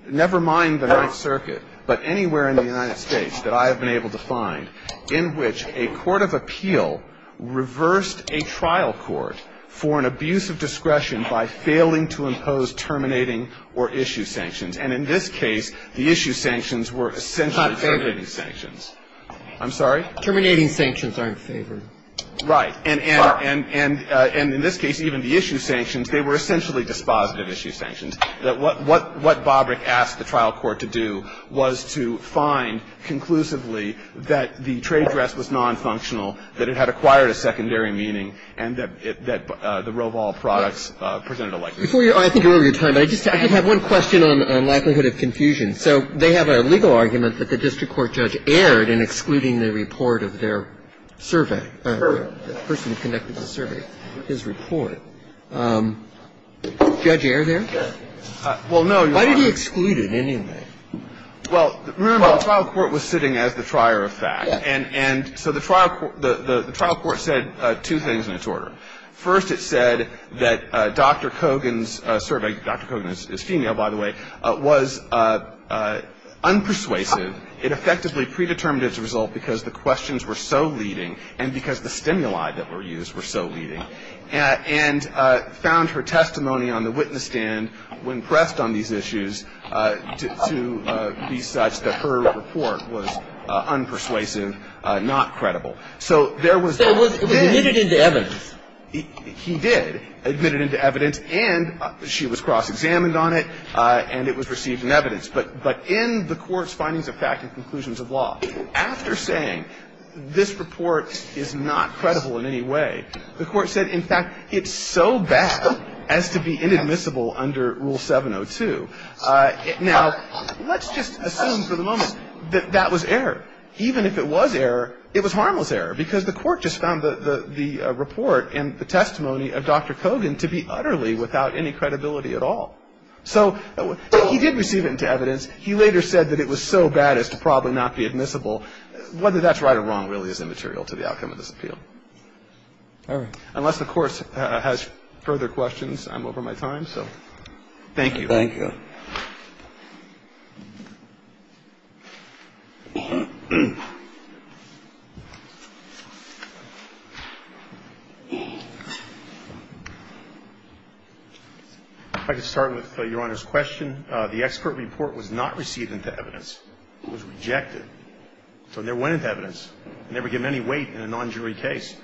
never mind the Ninth Circuit, but anywhere in the United States that I have been able to find in which a court of appeal reversed a trial court for an abuse of discretion by failing to impose terminating or issue sanctions. And in this case, the issue sanctions were essentially terminating sanctions. Terminating. I'm sorry? Terminating sanctions aren't favored. Right. And in this case, even the issue sanctions, they were essentially dispositive issue sanctions. And I think this is a very important point, and I think we can all agree on this. I mean, the court has not questioned that what Bobrick asked the trial court to do was to find conclusively that the trade dress was nonfunctional, that it had acquired a secondary meaning, and that the Roval products presented a likelihood. Before you're – I think you're over your time, but I just have one question on likelihood of confusion. So they have a legal argument that the district court judge erred in excluding the report of their survey, the person who conducted the survey, his report. Did the judge err there? Well, no. Why did he exclude it anyway? Well, remember, the trial court was sitting as the trier of fact. And so the trial court said two things in its order. First, it said that Dr. Kogan's survey – Dr. Kogan is female, by the way – was unpersuasive. It effectively predetermined its result because the questions were so leading and because the stimuli that were used were so leading, and found her testimony on the witness stand when pressed on these issues to be such that her report was unpersuasive, not credible. So there was – So it was admitted into evidence. He did admit it into evidence, and she was cross-examined on it, and it was received in evidence. But in the Court's findings of fact and conclusions of law, after saying this report is not credible in any way, the Court said, in fact, it's so bad as to be inadmissible under Rule 702. Now, let's just assume for the moment that that was error. Even if it was error, it was harmless error, because the Court just found the report and the testimony of Dr. Kogan to be utterly without any credibility at all. So he did receive it into evidence. He later said that it was so bad as to probably not be admissible. Whether that's right or wrong really is immaterial to the outcome of this appeal. Unless the Court has further questions, I'm over my time. So thank you. Thank you. I'd like to start with Your Honor's question. The expert report was not received into evidence. It was rejected. So it never went into evidence. It never gave any weight in a non-jury case.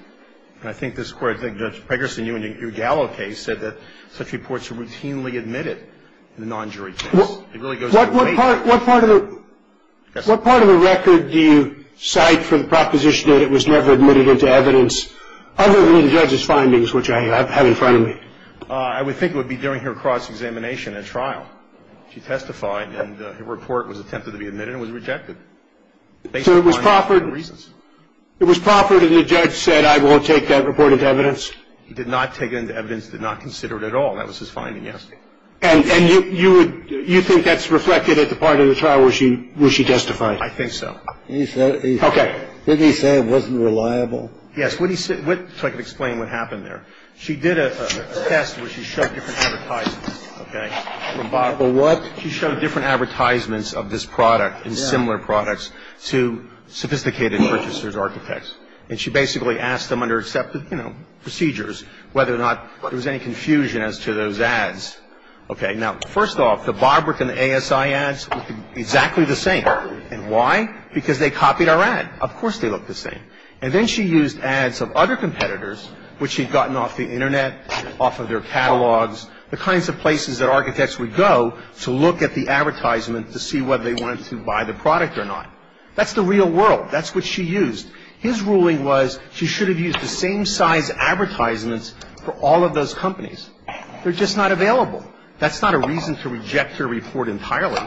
And I think this Court, I think Judge Pegersen, you in your Gallo case said that such What part of the record do you cite for the proposition that it was never admitted into evidence, other than the judge's findings, which I have in front of me? I would think it would be during her cross-examination at trial. She testified, and her report was attempted to be admitted and was rejected. So it was proffered. It was proffered, and the judge said, I won't take that report into evidence. He did not take it into evidence, did not consider it at all. That was his finding, yes. And you think that's reflected at the part of the trial where she testified? I think so. Okay. Didn't he say it wasn't reliable? Yes. So I can explain what happened there. She did a test where she showed different advertisements. Okay. She showed different advertisements of this product and similar products to sophisticated purchasers, architects. And she basically asked them under, you know, procedures whether or not there was any confusion as to those ads. Okay. Now, first off, the Barbrook and the ASI ads looked exactly the same. And why? Because they copied our ad. Of course they looked the same. And then she used ads of other competitors, which she'd gotten off the Internet, off of their catalogs, the kinds of places that architects would go to look at the advertisement to see whether they wanted to buy the product or not. That's the real world. That's what she used. His ruling was she should have used the same size advertisements for all of those companies. They're just not available. That's not a reason to reject her report entirely.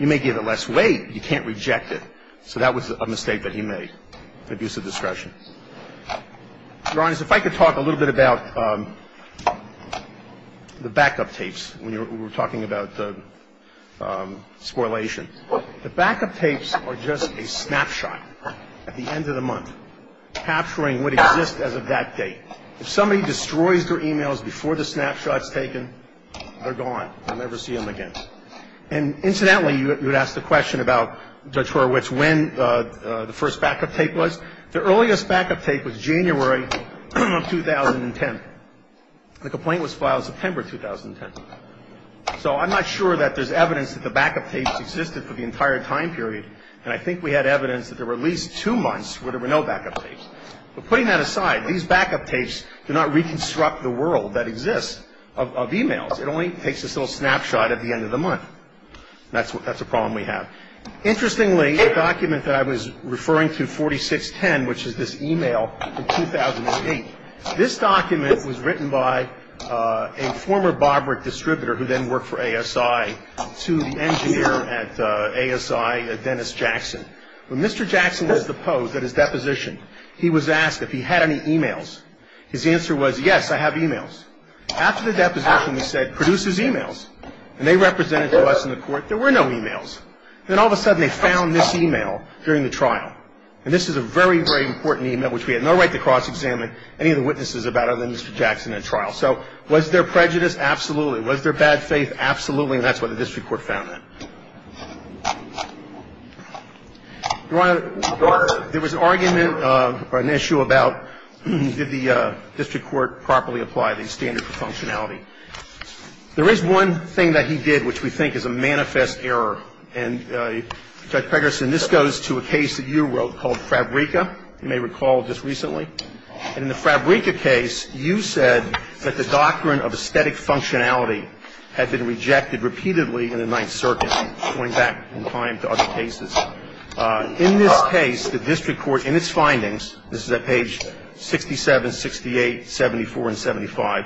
You may give it less weight, but you can't reject it. So that was a mistake that he made, an abuse of discretion. Your Honors, if I could talk a little bit about the backup tapes when we were talking about the scorrelation. The backup tapes are just a snapshot at the end of the month capturing what exists as of that date. If somebody destroys their emails before the snapshot's taken, they're gone. You'll never see them again. And incidentally, you would ask the question about, Judge Horowitz, when the first backup tape was. The earliest backup tape was January of 2010. The complaint was filed September of 2010. So I'm not sure that there's evidence that the backup tapes existed for the entire time period. And I think we had evidence that there were at least two months where there were no backup tapes. But putting that aside, these backup tapes do not reconstruct the world that exists of emails. It only takes this little snapshot at the end of the month. That's a problem we have. Interestingly, a document that I was referring to, 4610, which is this email from 2008, this document was written by a former Bobrick distributor who then worked for ASI to the engineer at ASI, Dennis Jackson. When Mr. Jackson was deposed at his deposition, he was asked if he had any emails. His answer was, yes, I have emails. After the deposition, he said, produce his emails. And they represented to us in the court there were no emails. Then all of a sudden, they found this email during the trial. And this is a very, very important email, which we had no right to cross-examine any of the witnesses about other than Mr. Jackson at trial. So was there prejudice? Absolutely. Was there bad faith? Absolutely. And that's what the district court found. Your Honor, there was an argument or an issue about did the district court properly apply these standards of functionality. There is one thing that he did which we think is a manifest error. And, Judge Pegerson, this goes to a case that you wrote called Fabrica, you may recall just recently. And in the Fabrica case, you said that the doctrine of aesthetic functionality had been rejected repeatedly in the Ninth Circuit, going back in time to other cases. In this case, the district court in its findings, this is at page 67, 68, 74, and 75,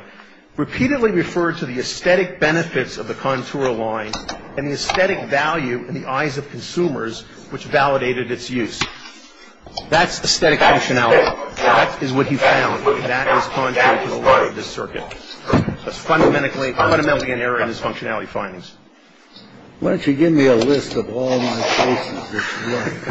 repeatedly referred to the aesthetic benefits of the contour line and the aesthetic value in the eyes of consumers which validated its use. That's aesthetic functionality. That is what he found. That is contrary to the law of this circuit. That's fundamentally an error in his functionality findings. Why don't you give me a list of all my cases this morning? We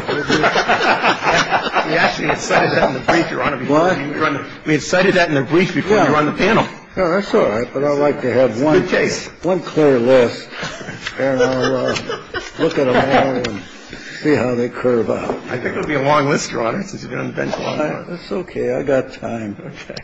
actually had cited that in the brief, Your Honor. We had cited that in the brief before you were on the panel. No, that's all right. But I'd like to have one clear list. And I'll look at them all and see how they curve out. I think it will be a long list, Your Honor, since you've been on the bench a long time. It's okay. I've got time. Okay.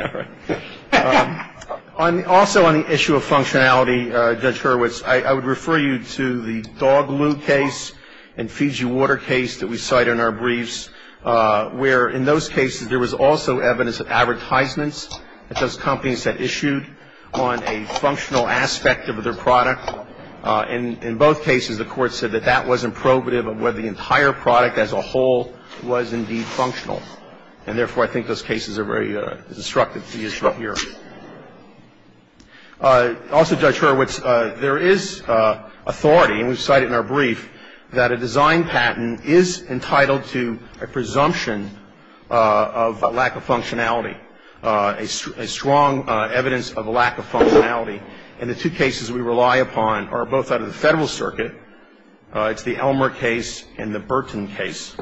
All right. Also on the issue of functionality, Judge Hurwitz, I would refer you to the Dog Lube case and Fiji Water case that we cite in our briefs, where in those cases there was also evidence of advertisements that those companies had issued on a functional aspect of their product. And in both cases, the Court said that that wasn't probative of whether the entire product as a whole was indeed functional. And therefore, I think those cases are very destructive to the issue here. Also, Judge Hurwitz, there is authority, and we've cited it in our brief, that a design patent is entitled to a presumption of a lack of functionality, a strong evidence of a lack of functionality. And the two cases we rely upon are both out of the Federal Circuit. It's the Elmer case and the Burton case.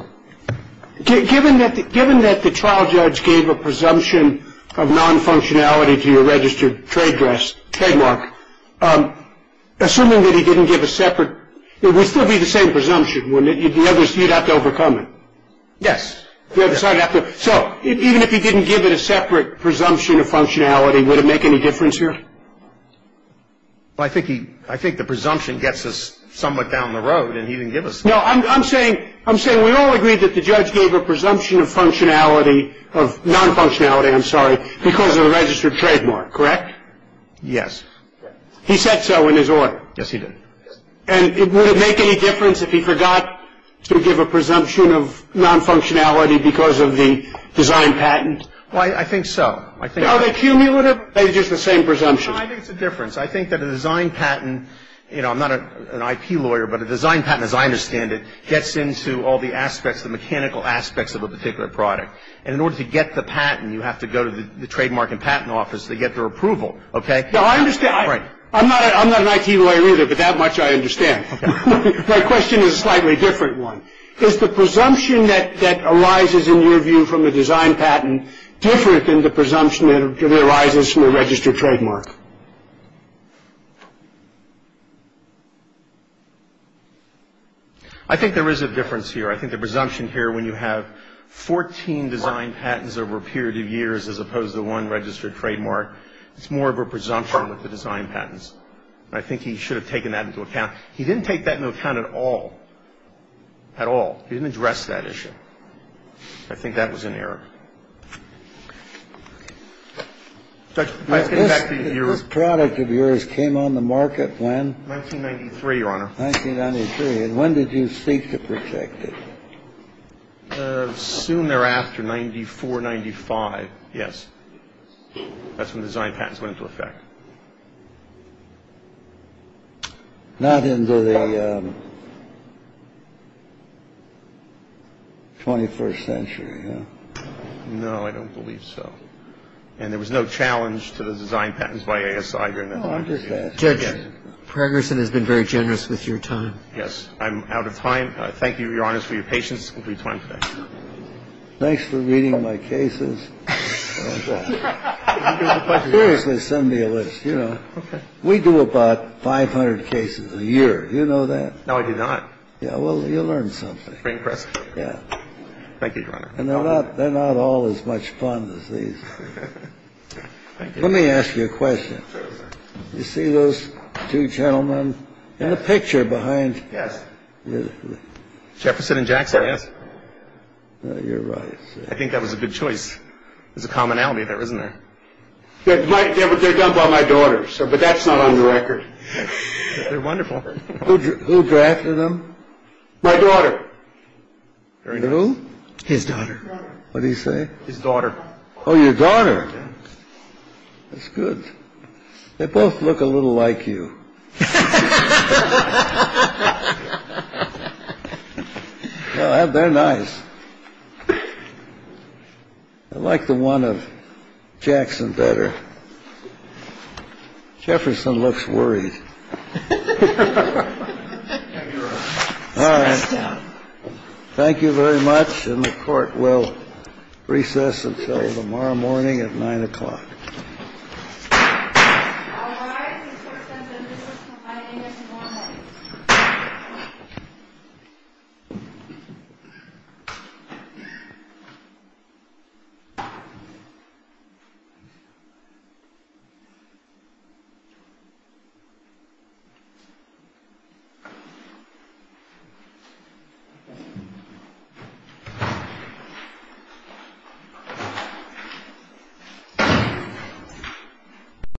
Given that the trial judge gave a presumption of non-functionality to your registered trade dress trademark, assuming that he didn't give a separate, it would still be the same presumption, wouldn't it? You'd have to overcome it. Yes. So even if he didn't give it a separate presumption of functionality, would it make any difference here? Well, I think the presumption gets us somewhat down the road, and he didn't give us that. No, I'm saying we all agreed that the judge gave a presumption of functionality, of non-functionality, I'm sorry, because of the registered trademark, correct? Yes. He said so in his order. Yes, he did. And would it make any difference if he forgot to give a presumption of non-functionality because of the design patent? Well, I think so. Are they cumulative, or are they just the same presumption? No, I think it's a difference. I think that a design patent, you know, I'm not an IP lawyer, but a design patent, as I understand it, gets into all the aspects, the mechanical aspects of a particular product. And in order to get the patent, you have to go to the trademark and patent office to get their approval, okay? Now, I understand. I'm not an IT lawyer either, but that much I understand. My question is a slightly different one. Is the presumption that arises, in your view, from a design patent, different than the presumption that arises from a registered trademark? I think there is a difference here. I think the presumption here, when you have 14 design patents over a period of years, as opposed to one registered trademark, it's more of a presumption with the design patents. And I think he should have taken that into account. He didn't take that into account at all, at all. He didn't address that issue. I think that was an error. Judge, let's get back to your ---- This product of yours came on the market when? 1993, Your Honor. 1993. And when did you seek to protect it? Soon thereafter, 94, 95, yes. That's when the design patents went into effect. Not into the 21st century, no? No, I don't believe so. And there was no challenge to the design patents by ASI during that time. Oh, I'm just asking. Judge, Pragerson has been very generous with your time. Yes. I'm out of time. Thank you, Your Honor, for your patience. We'll do time today. Thanks for reading my cases. Seriously, send me a list, you know. Okay. We do about 500 cases a year. You know that? No, I do not. Yeah, well, you learned something. Very impressive. Yeah. Thank you, Your Honor. And they're not all as much fun as these. Thank you. Let me ask you a question. Certainly. You see those two gentlemen in the picture behind? Yes. Jefferson and Jackson, yes? You're right. I think that was a good choice. There's a commonality there, isn't there? They're done by my daughter, but that's not on the record. They're wonderful. Who drafted them? My daughter. Who? His daughter. What did he say? His daughter. Oh, your daughter. That's good. They both look a little like you. Well, they're nice. I like the one of Jackson better. Jefferson looks worried. All right. Thank you very much. And the court will recess until tomorrow morning at 9 o'clock. All rise. The court has a recess until 9 a.m. tomorrow morning. Thank you.